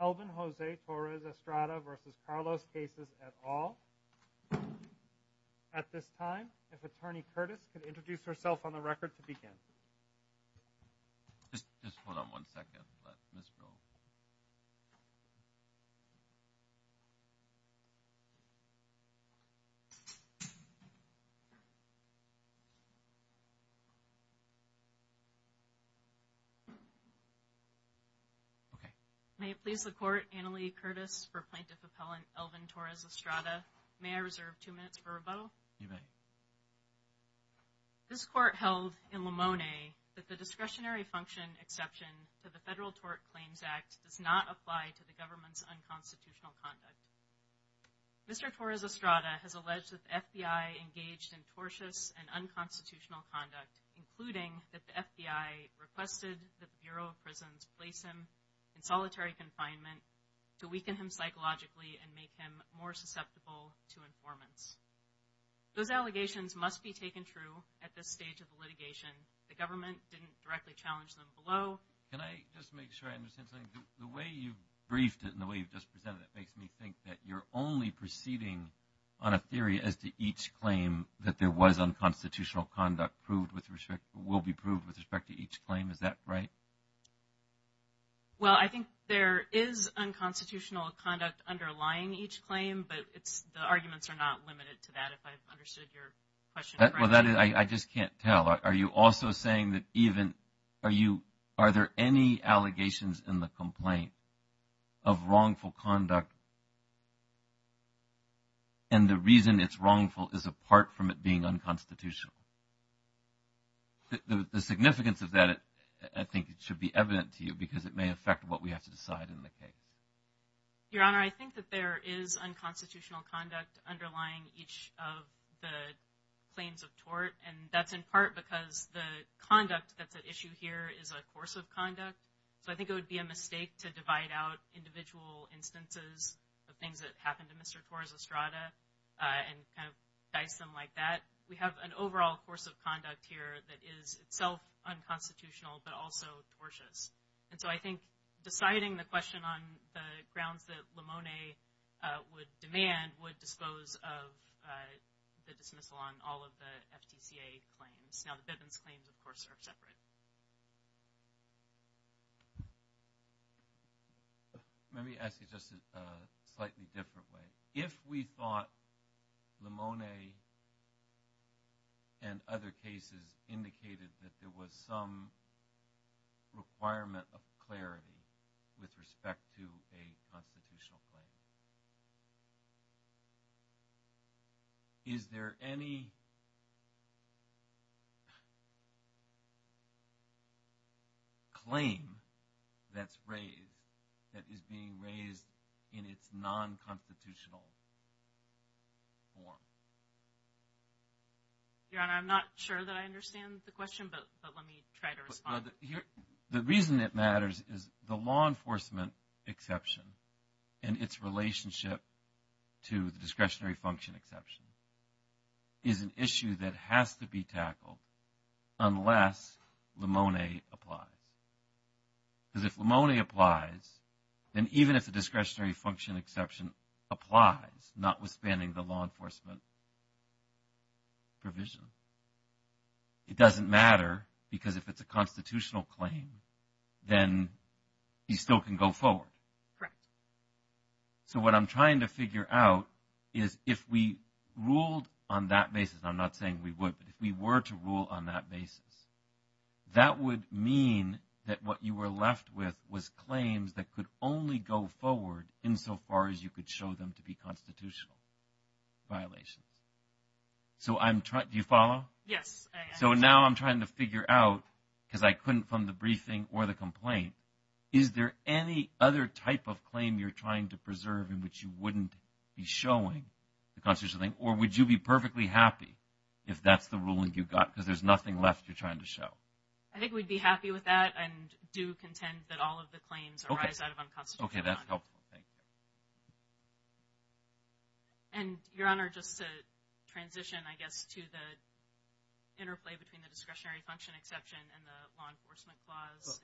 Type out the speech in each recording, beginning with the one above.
Elvin Jose Torres-Estrada v. Carlos Casas et al. At this time, if Attorney Curtis could introduce herself on the record to begin. Just hold on one second. Let Ms. go. Okay. May it please the Court, Annalee Curtis for Plaintiff Appellant Elvin Torres-Estrada. May I reserve two minutes for rebuttal? You may. This Court held in Limone that the discretionary function exception to the Federal Tort Claims Act does not apply to the government's unconstitutional conduct. Mr. Torres-Estrada has alleged that the FBI engaged in tortious and unconstitutional conduct, including that the FBI requested that the Bureau of Prisons place him in solitary confinement to weaken him psychologically and make him more susceptible to informants. Those allegations must be taken true at this stage of the litigation. The government didn't directly challenge them below. Can I just make sure I understand something? The way you've briefed it and the way you've just presented it makes me think that you're only proceeding on a theory as to each claim that there was unconstitutional conduct proved with respect, will be proved with respect to each claim. Is that right? Well, I think there is unconstitutional conduct underlying each claim, but the arguments are not limited to that if I've understood your question correctly. Well, I just can't tell. Are you also saying that even, are there any allegations in the complaint of wrongful conduct and the reason it's wrongful is apart from it being unconstitutional? The significance of that, I think, should be evident to you because it may affect what we have to decide in the case. Your Honor, I think that there is unconstitutional conduct underlying each of the claims of tort, and that's in part because the conduct that's at issue here is a course of conduct. So I think it would be a mistake to divide out individual instances of things that happened to Mr. Torres-Estrada and kind of dice them like that. We have an overall course of conduct here that is itself unconstitutional but also tortious. And so I think deciding the question on the grounds that Limone would demand would dispose of the dismissal on all of the FTCA claims. Now, the Bivens claims, of course, are separate. Let me ask you just a slightly different way. If we thought Limone and other cases indicated that there was some requirement of clarity with respect to a constitutional claim, is there any claim that's raised that is being raised in its nonconstitutional form? Your Honor, I'm not sure that I understand the question, but let me try to respond. The reason it matters is the law enforcement exception and its relationship to the discretionary function exception is an issue that has to be tackled unless Limone applies. Because if Limone applies, then even if the discretionary function exception applies, notwithstanding the law enforcement provision, it doesn't matter because if it's a constitutional claim, then he still can go forward. Correct. So what I'm trying to figure out is if we ruled on that basis, and I'm not saying we would, but if we were to rule on that basis, that would mean that what you were left with was claims that could only go forward insofar as you could show them to be constitutional violations. Do you follow? Yes. So now I'm trying to figure out, because I couldn't from the briefing or the complaint, is there any other type of claim you're trying to preserve in which you wouldn't be showing the constitutional thing, or would you be perfectly happy if that's the ruling you got because there's nothing left you're trying to show? I think we'd be happy with that and do contend that all of the claims arise out of unconstitutional. Okay, that's helpful. Thank you. And, Your Honor, just to transition, I guess, to the interplay between the discretionary function exception and the law enforcement clause.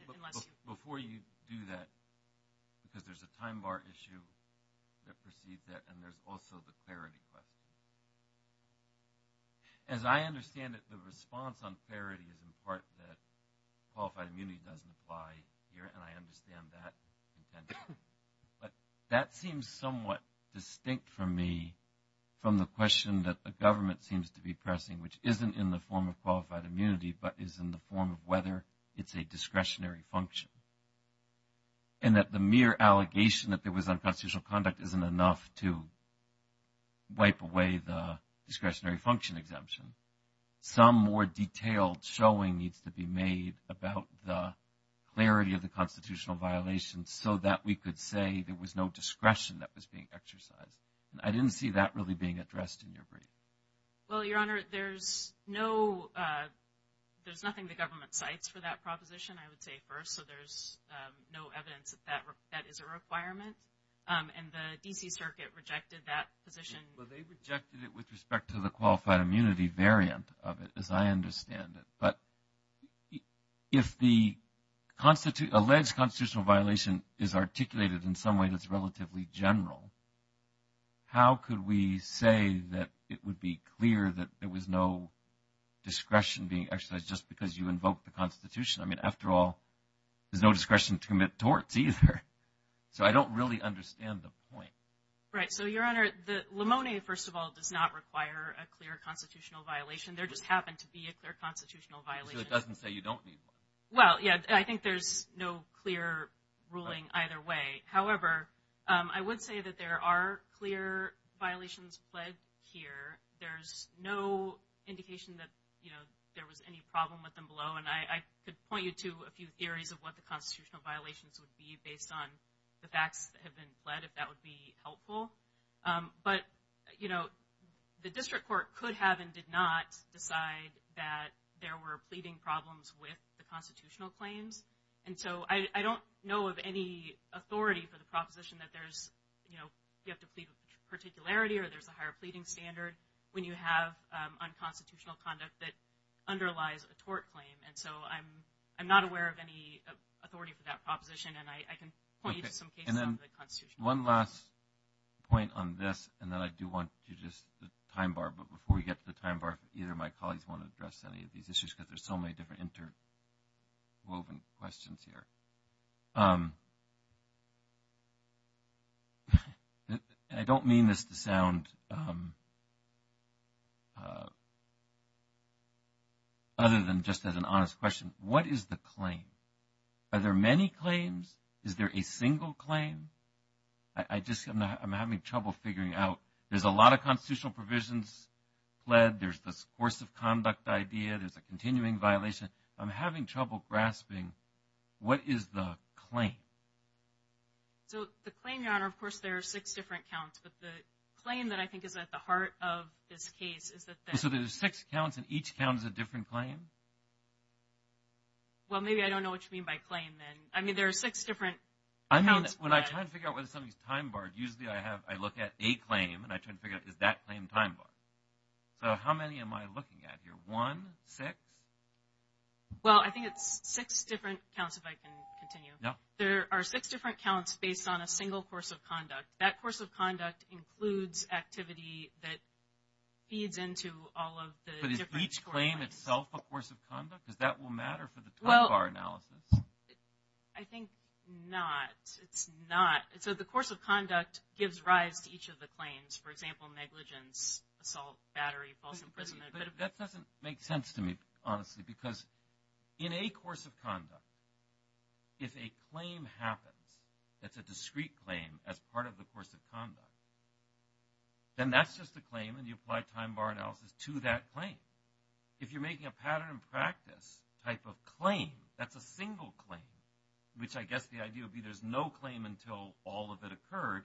Before you do that, because there's a time bar issue that precedes that, and there's also the clarity question. As I understand it, the response on clarity is in part that qualified immunity doesn't apply here, and I understand that. But that seems somewhat distinct for me from the question that the government seems to be pressing, which isn't in the form of qualified immunity but is in the form of whether it's a discretionary function, and that the mere allegation that there was unconstitutional conduct isn't enough to wipe away the discretionary function exemption. Some more detailed showing needs to be made about the clarity of the constitutional violations so that we could say there was no discretion that was being exercised. I didn't see that really being addressed in your brief. Well, Your Honor, there's nothing the government cites for that proposition, I would say, first, so there's no evidence that that is a requirement. And the D.C. Circuit rejected that position. Well, they rejected it with respect to the qualified immunity variant of it, as I understand it. But if the alleged constitutional violation is articulated in some way that's relatively general, how could we say that it would be clear that there was no discretion being exercised just because you invoked the Constitution? I mean, after all, there's no discretion to commit torts either. So I don't really understand the point. Right. So, Your Honor, the limone, first of all, does not require a clear constitutional violation. There just happened to be a clear constitutional violation. So it doesn't say you don't need one. Well, yeah, I think there's no clear ruling either way. However, I would say that there are clear violations pled here. There's no indication that, you know, there was any problem with them below. And I could point you to a few theories of what the constitutional violations would be based on the facts that have been pled, if that would be helpful. But, you know, the district court could have and did not decide that there were pleading problems with the constitutional claims. And so I don't know of any authority for the proposition that there's, you know, you have to plead with particularity or there's a higher pleading standard when you have unconstitutional conduct that underlies a tort claim. And so I'm not aware of any authority for that proposition. And I can point you to some cases under the Constitution. Okay. And then one last point on this, and then I do want you to just the time bar. But before we get to the time bar, either of my colleagues want to address any of these issues because there's so many different interwoven questions here. I don't mean this to sound other than just as an honest question. What is the claim? Are there many claims? Is there a single claim? I'm having trouble figuring out. There's a lot of constitutional provisions pled. There's this course of conduct idea. There's a continuing violation. I'm having trouble grasping. What is the claim? So the claim, Your Honor, of course, there are six different counts. But the claim that I think is at the heart of this case is that there's… So there's six counts and each count is a different claim? Well, maybe I don't know what you mean by claim then. I mean there are six different… When I try to figure out whether something is time barred, usually I look at a claim and I try to figure out is that claim time barred. So how many am I looking at here? One, six? Well, I think it's six different counts if I can continue. No. There are six different counts based on a single course of conduct. That course of conduct includes activity that feeds into all of the different… Is each claim itself a course of conduct? Does that matter for the time bar analysis? I think not. It's not. So the course of conduct gives rise to each of the claims. For example, negligence, assault, battery, false imprisonment. That doesn't make sense to me, honestly, because in a course of conduct, if a claim happens that's a discrete claim as part of the course of conduct, then that's just a claim and you apply time bar analysis to that claim. If you're making a pattern and practice type of claim, that's a single claim, which I guess the idea would be there's no claim until all of it occurred,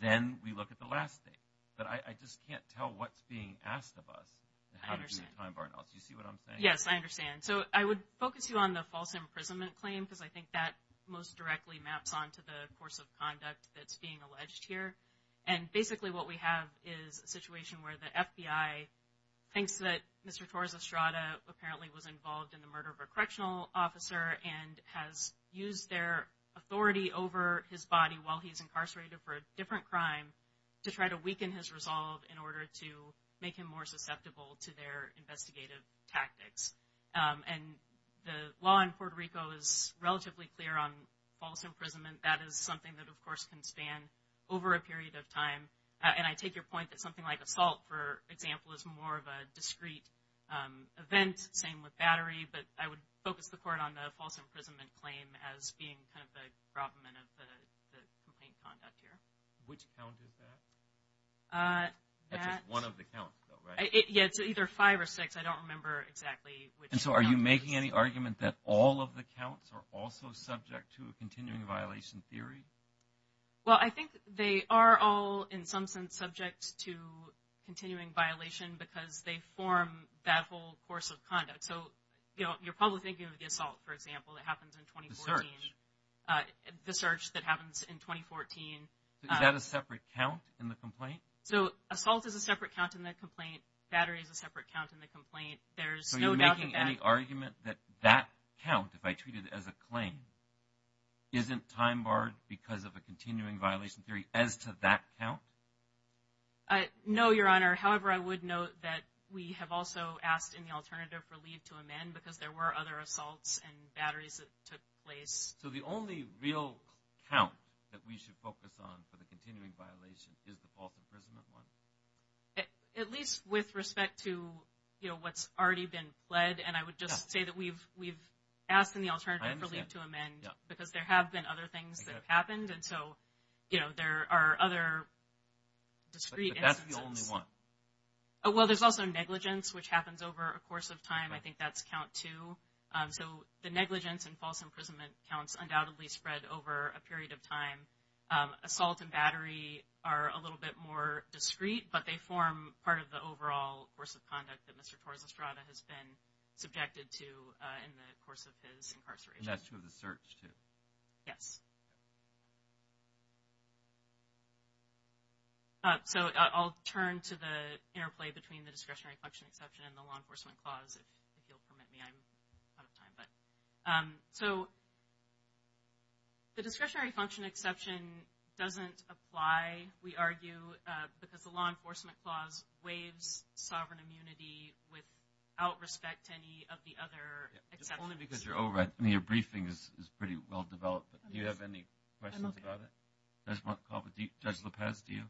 then we look at the last thing. But I just can't tell what's being asked of us and how to do the time bar analysis. Do you see what I'm saying? Yes, I understand. So I would focus you on the false imprisonment claim because I think that most directly maps onto the course of conduct that's being alleged here. And basically what we have is a situation where the FBI thinks that Mr. Torres Estrada apparently was involved in the murder of a correctional officer and has used their authority over his body while he's incarcerated for a different crime to try to weaken his resolve in order to make him more susceptible to their investigative tactics. And the law in Puerto Rico is relatively clear on false imprisonment. That is something that, of course, can span over a period of time. And I take your point that something like assault, for example, is more of a discreet event. Same with battery. But I would focus the court on the false imprisonment claim as being kind of the problem of the complaint conduct here. Which count is that? That's just one of the counts, though, right? Yeah, it's either five or six. I don't remember exactly which count. And so are you making any argument that all of the counts are also subject to a continuing violation theory? Well, I think they are all in some sense subject to continuing violation because they form that whole course of conduct. So, you know, you're probably thinking of the assault, for example, that happens in 2014. The search. The search that happens in 2014. Is that a separate count in the complaint? So assault is a separate count in the complaint. Battery is a separate count in the complaint. So you're making any argument that that count, if I treat it as a claim, isn't time barred because of a continuing violation theory as to that count? No, Your Honor. However, I would note that we have also asked in the alternative for leave to amend because there were other assaults and batteries that took place. So the only real count that we should focus on for the continuing violation is the false imprisonment one? At least with respect to, you know, what's already been pled. And I would just say that we've asked in the alternative for leave to amend because there have been other things that have happened. And so, you know, there are other discrete instances. But that's the only one. Well, there's also negligence, which happens over a course of time. I think that's count two. So the negligence and false imprisonment counts undoubtedly spread over a period of time. Assault and battery are a little bit more discrete, but they form part of the overall course of conduct that Mr. Torres-Estrada has been subjected to in the course of his incarceration. And that's true of the search, too. Yes. So I'll turn to the interplay between the discretionary function exception and the law enforcement clause, if you'll permit me. I'm out of time. So the discretionary function exception doesn't apply, we argue, because the law enforcement clause waives sovereign immunity without respect to any of the other exceptions. Only because you're over it. I mean, your briefing is pretty well developed. Do you have any questions about it? Judge Lopez, do you?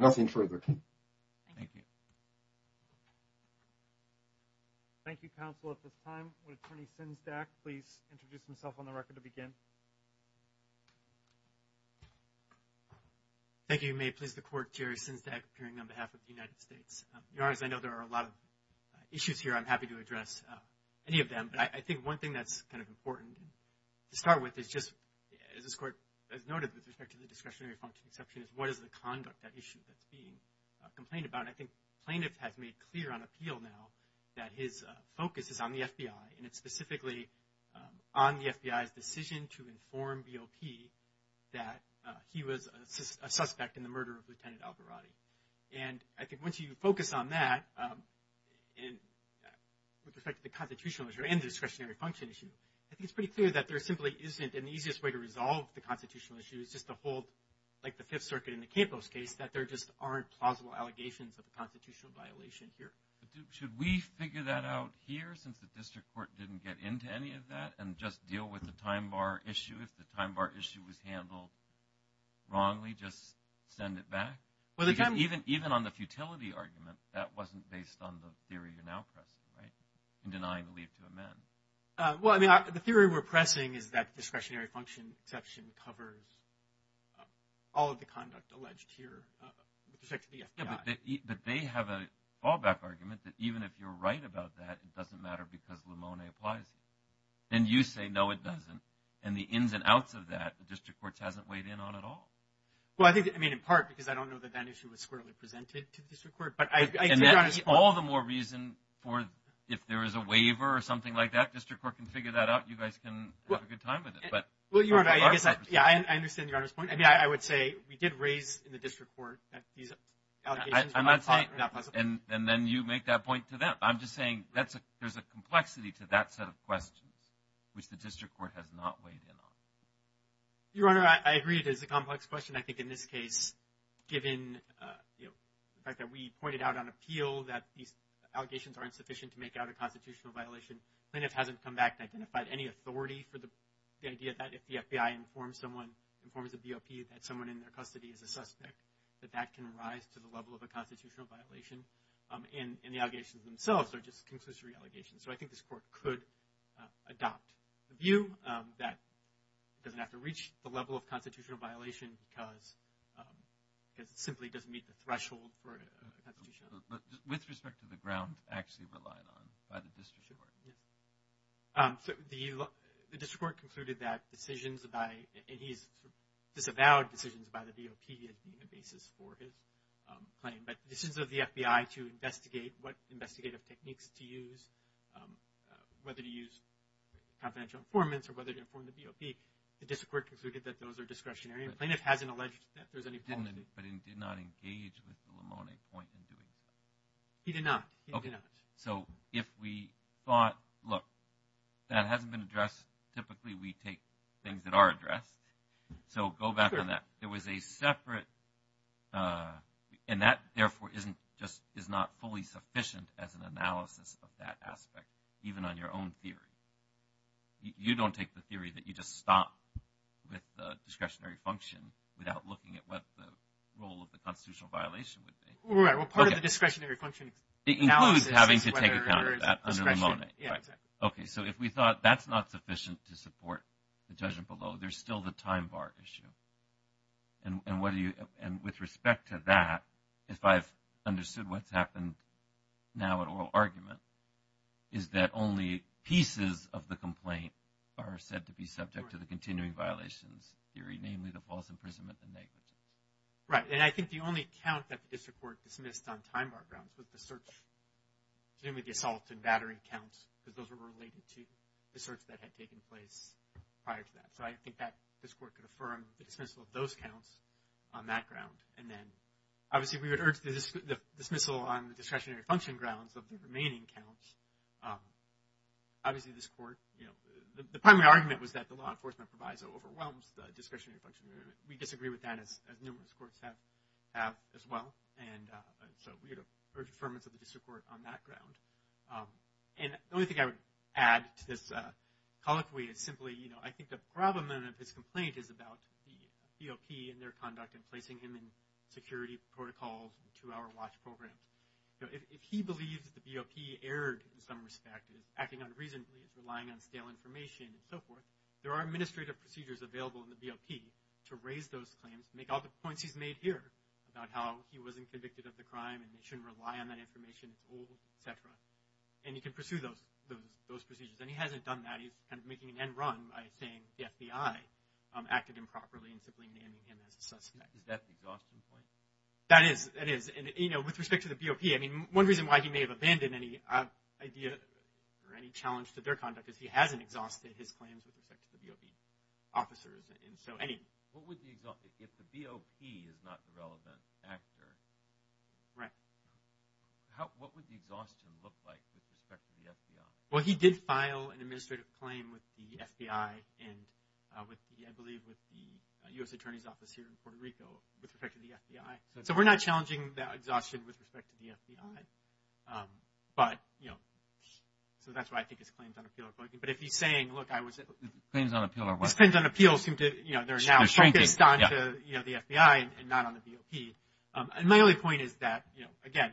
Nothing further. Thank you. Thank you, counsel, at this time. Would Attorney Sinsdak please introduce himself on the record to begin? Thank you. May it please the Court, Jerry Sinsdak, appearing on behalf of the United States. Your Honor, as I know there are a lot of issues here, I'm happy to address any of them. But I think one thing that's kind of important to start with is just, as this Court has noted with respect to the discretionary function exception, is what is the conduct at issue that's being complained about? And I think plaintiff has made clear on appeal now that his focus is on the FBI, and it's specifically on the FBI's decision to inform BOP that he was a suspect in the murder of Lieutenant Alvarado. And I think once you focus on that, with respect to the constitutional issue and the discretionary function issue, I think it's pretty clear that there simply isn't an easiest way to resolve the constitutional issue. It's just to hold, like the Fifth Circuit in the Campos case, that there just aren't plausible allegations of a constitutional violation here. But should we figure that out here, since the District Court didn't get into any of that, and just deal with the time bar issue? If the time bar issue was handled wrongly, just send it back? Because even on the futility argument, that wasn't based on the theory you're now pressing, right? In denying the leave to amend. Well, I mean, the theory we're pressing is that the discretionary function exception covers all of the conduct alleged here, with respect to the FBI. But they have a fallback argument that even if you're right about that, it doesn't matter because Limone applies it. And you say, no, it doesn't. And the ins and outs of that, the District Court hasn't weighed in on at all. Well, I think, I mean, in part, because I don't know that that issue was squarely presented to the District Court. And that is all the more reason for, if there is a waiver or something like that, District Court can figure that out. You guys can have a good time with it. Well, Your Honor, I guess, yeah, I understand Your Honor's point. I mean, I would say we did raise in the District Court that these allegations are not possible. And then you make that point to them. I'm just saying there's a complexity to that set of questions, which the District Court has not weighed in on. Your Honor, I agree it is a complex question. I think in this case, given, you know, the fact that we pointed out on appeal that these allegations aren't sufficient to make out a constitutional violation, informs the BOP that someone in their custody is a suspect, that that can rise to the level of a constitutional violation. And the allegations themselves are just conclusive re-allegations. So I think this Court could adopt the view that it doesn't have to reach the level of constitutional violation because it simply doesn't meet the threshold for a constitutional violation. With respect to the ground actually relied on by the District Court? The District Court concluded that decisions by, and he's disavowed decisions by the BOP as being the basis for his claim. But decisions of the FBI to investigate what investigative techniques to use, whether to use confidential informants or whether to inform the BOP, the District Court concluded that those are discretionary. And the plaintiff hasn't alleged that there's any problem. But he did not engage with the Lamone point in doing so. He did not. He did not. So if we thought, look, that hasn't been addressed, typically we take things that are addressed. So go back on that. There was a separate, and that therefore isn't just, is not fully sufficient as an analysis of that aspect, even on your own theory. You don't take the theory that you just stop with the discretionary function without looking at what the role of the constitutional violation would be. Right. Well, part of the discretionary function analysis is whether there is discretion. It includes having to take account of that under the Lamone. Yeah, exactly. Okay. So if we thought that's not sufficient to support the judgment below, there's still the time bar issue. And with respect to that, if I've understood what's happened now at oral argument, is that only pieces of the complaint are said to be subject to the continuing violations theory, namely the false imprisonment and negligence. Right. And I think the only count that the district court dismissed on time bar grounds was the search, presumably the assault and battery counts, because those were related to the search that had taken place prior to that. So I think that this court could affirm the dismissal of those counts on that ground. And then obviously we would urge the dismissal on the discretionary function grounds of the remaining counts. Obviously this court, you know, the primary argument was that the law enforcement proviso overwhelms the discretionary function. We disagree with that as numerous courts have as well. And so we would urge affirmance of the district court on that ground. And the only thing I would add to this colloquy is simply, you know, I think the problem of this complaint is about the BOP and their conduct in placing him in security protocols and two-hour watch programs. If he believes that the BOP erred in some respect, is acting unreasonably, is relying on stale information and so forth, there are administrative procedures available in the BOP to raise those claims, to make all the points he's made here about how he wasn't convicted of the crime and they shouldn't rely on that information, it's old, et cetera. And he can pursue those procedures. And he hasn't done that. He's kind of making an end run by saying the FBI acted improperly and simply naming him as a suspect. Is that the exhaustion point? That is. That is. And, you know, with respect to the BOP, I mean one reason why he may have abandoned any idea or any challenge to their conduct is because he hasn't exhausted his claims with respect to the BOP officers. And so any – What would the – if the BOP is not the relevant actor – Right. What would the exhaustion look like with respect to the FBI? Well, he did file an administrative claim with the FBI and with, I believe, with the U.S. Attorney's Office here in Puerto Rico with respect to the FBI. So we're not challenging that exhaustion with respect to the FBI. But, you know, so that's why I think his claims on appeal are – But if he's saying, look, I was – Claims on appeal are what? His claims on appeal seem to – They're shrinking. They're now focused on the FBI and not on the BOP. And my only point is that, you know, again,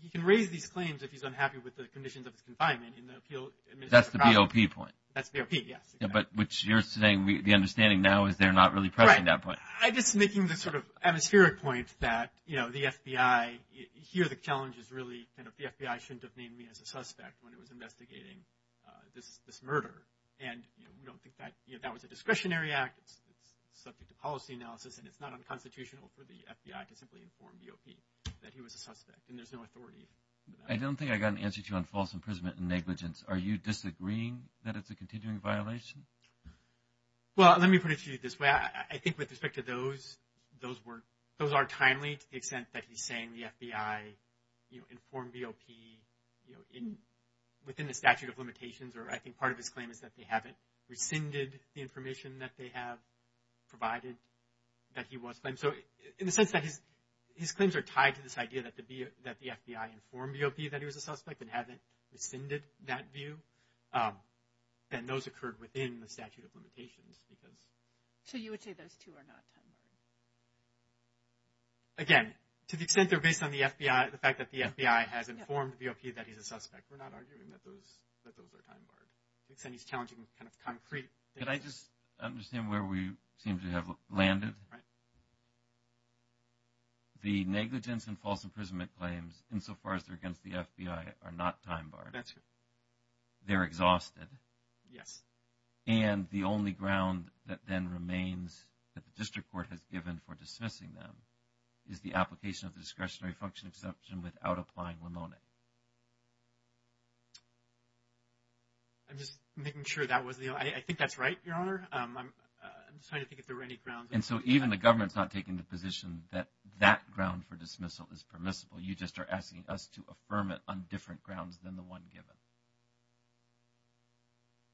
he can raise these claims if he's unhappy with the conditions of his confinement in the appeal – That's the BOP point. That's BOP, yes. But what you're saying, the understanding now is they're not really pressing that point. Right. I'm just making this sort of atmospheric point that, you know, the FBI – Here the challenge is really kind of the FBI shouldn't have named me as a suspect when it was investigating this murder. And, you know, we don't think that – You know, that was a discretionary act. It's subject to policy analysis. And it's not unconstitutional for the FBI to simply inform BOP that he was a suspect. And there's no authority. I don't think I got an answer to you on false imprisonment and negligence. Are you disagreeing that it's a continuing violation? Well, let me put it to you this way. I think with respect to those, those were – those are timely to the extent that he's saying the FBI, you know, informed BOP, you know, within the statute of limitations, or I think part of his claim is that they haven't rescinded the information that they have provided that he was claimed. So in the sense that his claims are tied to this idea that the FBI informed BOP that he was a suspect and haven't rescinded that view. And those occurred within the statute of limitations because – So you would say those two are not time-barred? Again, to the extent they're based on the FBI, the fact that the FBI has informed BOP that he's a suspect, we're not arguing that those are time-barred. To the extent he's challenging kind of concrete – Could I just understand where we seem to have landed? Right. The negligence and false imprisonment claims, insofar as they're against the FBI, are not time-barred. That's correct. They're exhausted. Yes. And the only ground that then remains that the district court has given for dismissing them is the application of the discretionary function exception without applying limonic. I'm just making sure that was the – I think that's right, Your Honor. I'm just trying to think if there were any grounds. And so even the government's not taking the position that that ground for dismissal is permissible. You just are asking us to affirm it on different grounds than the one given.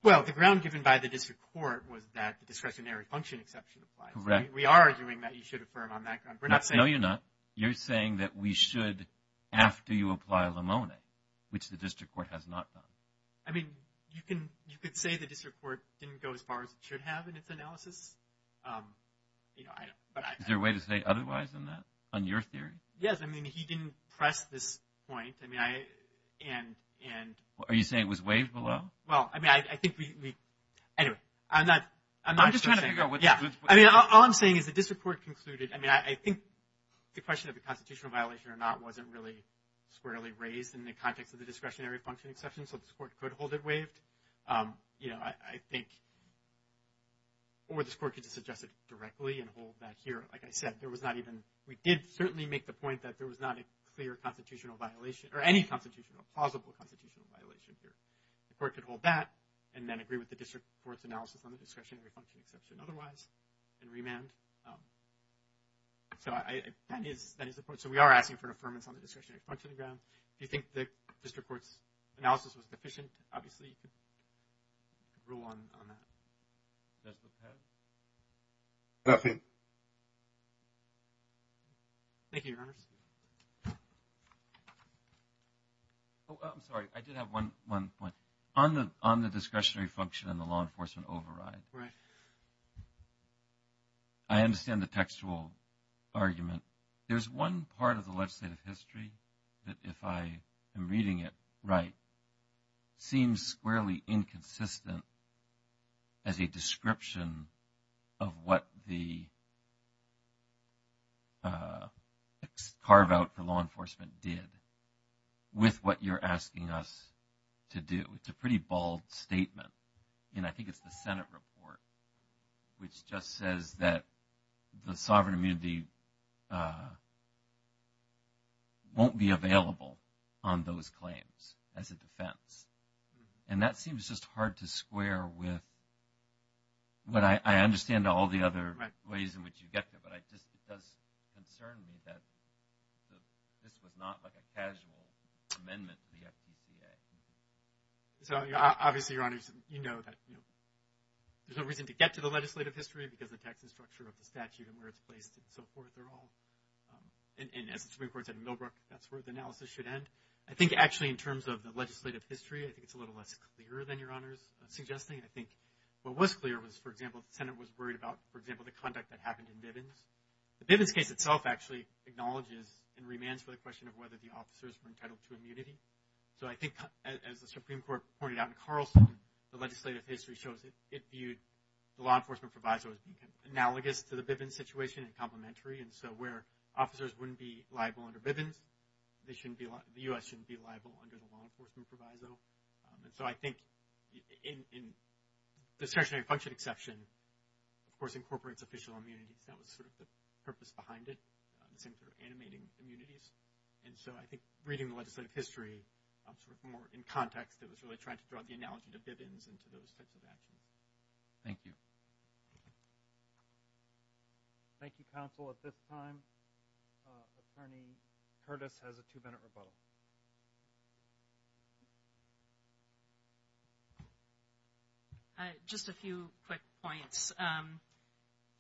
Well, the ground given by the district court was that the discretionary function exception applies. Correct. We are arguing that you should affirm on that ground. No, you're not. You're saying that we should after you apply limonic, which the district court has not done. I mean, you could say the district court didn't go as far as it should have in its analysis. Is there a way to say otherwise on that, on your theory? Yes. I mean, he didn't press this point. Are you saying it was waived below? Well, I mean, I think we – anyway, I'm not – I'm just trying to figure out. I mean, all I'm saying is the district court concluded – I mean, I think the question of the constitutional violation or not wasn't really squarely raised in the context of the discretionary function exception, so this court could hold it waived. You know, I think – or this court could just suggest it directly and hold that here. Like I said, there was not even – we did certainly make the point that there was not a clear constitutional violation or any constitutional – plausible constitutional violation here. The court could hold that and then agree with the district court's analysis on the discretionary function exception otherwise and remand. So I – that is the point. So we are asking for an affirmance on the discretionary function ground. If you think the district court's analysis was deficient, obviously you could rule on that. That's the path? Nothing. Thank you. Thank you, Your Honors. Oh, I'm sorry. I did have one point. On the discretionary function and the law enforcement override. Right. I understand the textual argument. There's one part of the legislative history that, if I am reading it right, seems squarely inconsistent as a description of what the carve out for law enforcement did with what you're asking us to do. It's a pretty bold statement. And I think it's the Senate report which just says that the sovereign immunity won't be available on those claims as a defense. And that seems just hard to square with what I understand all the other ways in which you get there. But it does concern me that this was not like a casual amendment to the FPCA. So obviously, Your Honors, you know that there's no reason to get to the legislative history because the text and structure of the statute and where it's placed and so forth, they're all – and as the Supreme Court said in Millbrook, that's where the analysis should end. I think actually in terms of the legislative history, I think it's a little less clear than Your Honors are suggesting. I think what was clear was, for example, the Senate was worried about, for example, the conduct that happened in Bivens. The Bivens case itself actually acknowledges and remands for the question of whether the officers were entitled to immunity. So I think, as the Supreme Court pointed out in Carlson, the legislative history shows it viewed the law enforcement provisos analogous to the Bivens situation and complementary. And so where officers wouldn't be liable under Bivens, the U.S. shouldn't be liable under the law enforcement proviso. And so I think in discretionary function exception, of course, incorporates official immunities. That was sort of the purpose behind it, the same sort of animating immunities. And so I think reading the legislative history sort of more in context, it was really trying to draw the analogy to Bivens and to those types of actions. Thank you. Thank you, counsel. At this time, Attorney Curtis has a two-minute rebuttal. Just a few quick points.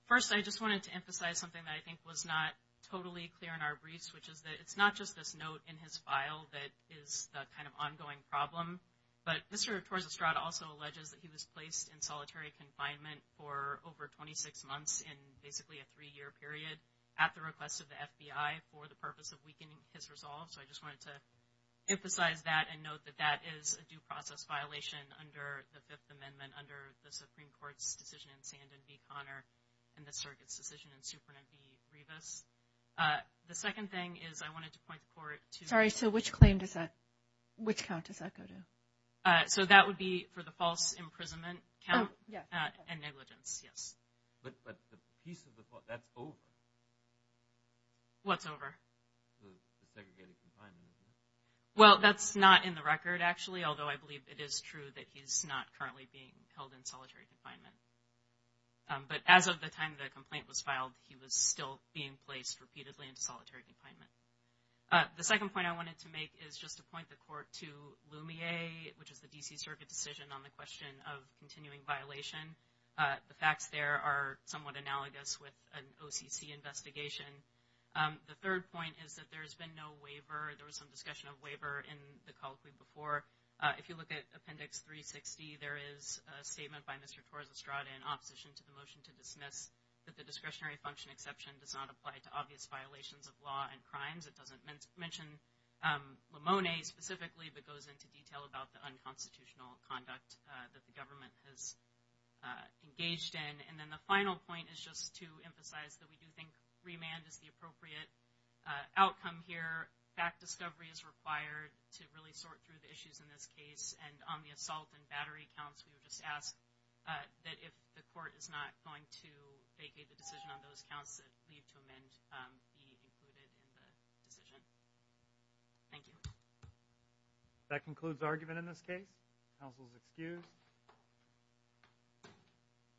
First, I just wanted to emphasize something that I think was not totally clear in our briefs, which is that it's not just this note in his file that is the kind of ongoing problem, but Mr. Torres-Estrada also alleges that he was placed in solitary confinement for over 26 months in basically a three-year period at the request of the FBI for the purpose of weakening his resolve. So I just wanted to emphasize that and note that that is a due process violation under the Fifth Amendment, under the Supreme Court's decision in Sand and v. Conner and the circuit's decision in Superintendent v. Revis. The second thing is I wanted to point the court to- Sorry, so which claim does that, which count does that go to? So that would be for the false imprisonment count and negligence, yes. But the piece of the, that's over. What's over? The segregated confinement. Well, that's not in the record, actually, although I believe it is true that he's not currently being held in solitary confinement. But as of the time the complaint was filed, he was still being placed repeatedly into solitary confinement. The second point I wanted to make is just to point the court to Lumiere, which is the D.C. Circuit decision on the question of continuing violation. The facts there are somewhat analogous with an OCC investigation. The third point is that there has been no waiver. There was some discussion of waiver in the colloquy before. If you look at Appendix 360, there is a statement by Mr. Torres-Estrada in opposition to the motion to dismiss that the discretionary function exception does not apply to obvious violations of law and crimes. It doesn't mention Limone specifically, but goes into detail about the unconstitutional conduct that the government has engaged in. And then the final point is just to emphasize that we do think remand is the appropriate outcome here. Fact discovery is required to really sort through the issues in this case. And on the assault and battery counts, we would just ask that if the court is not going to vacate the decision on those counts, that leave to amend be included in the decision. Thank you. That concludes argument in this case. Counsel is excused.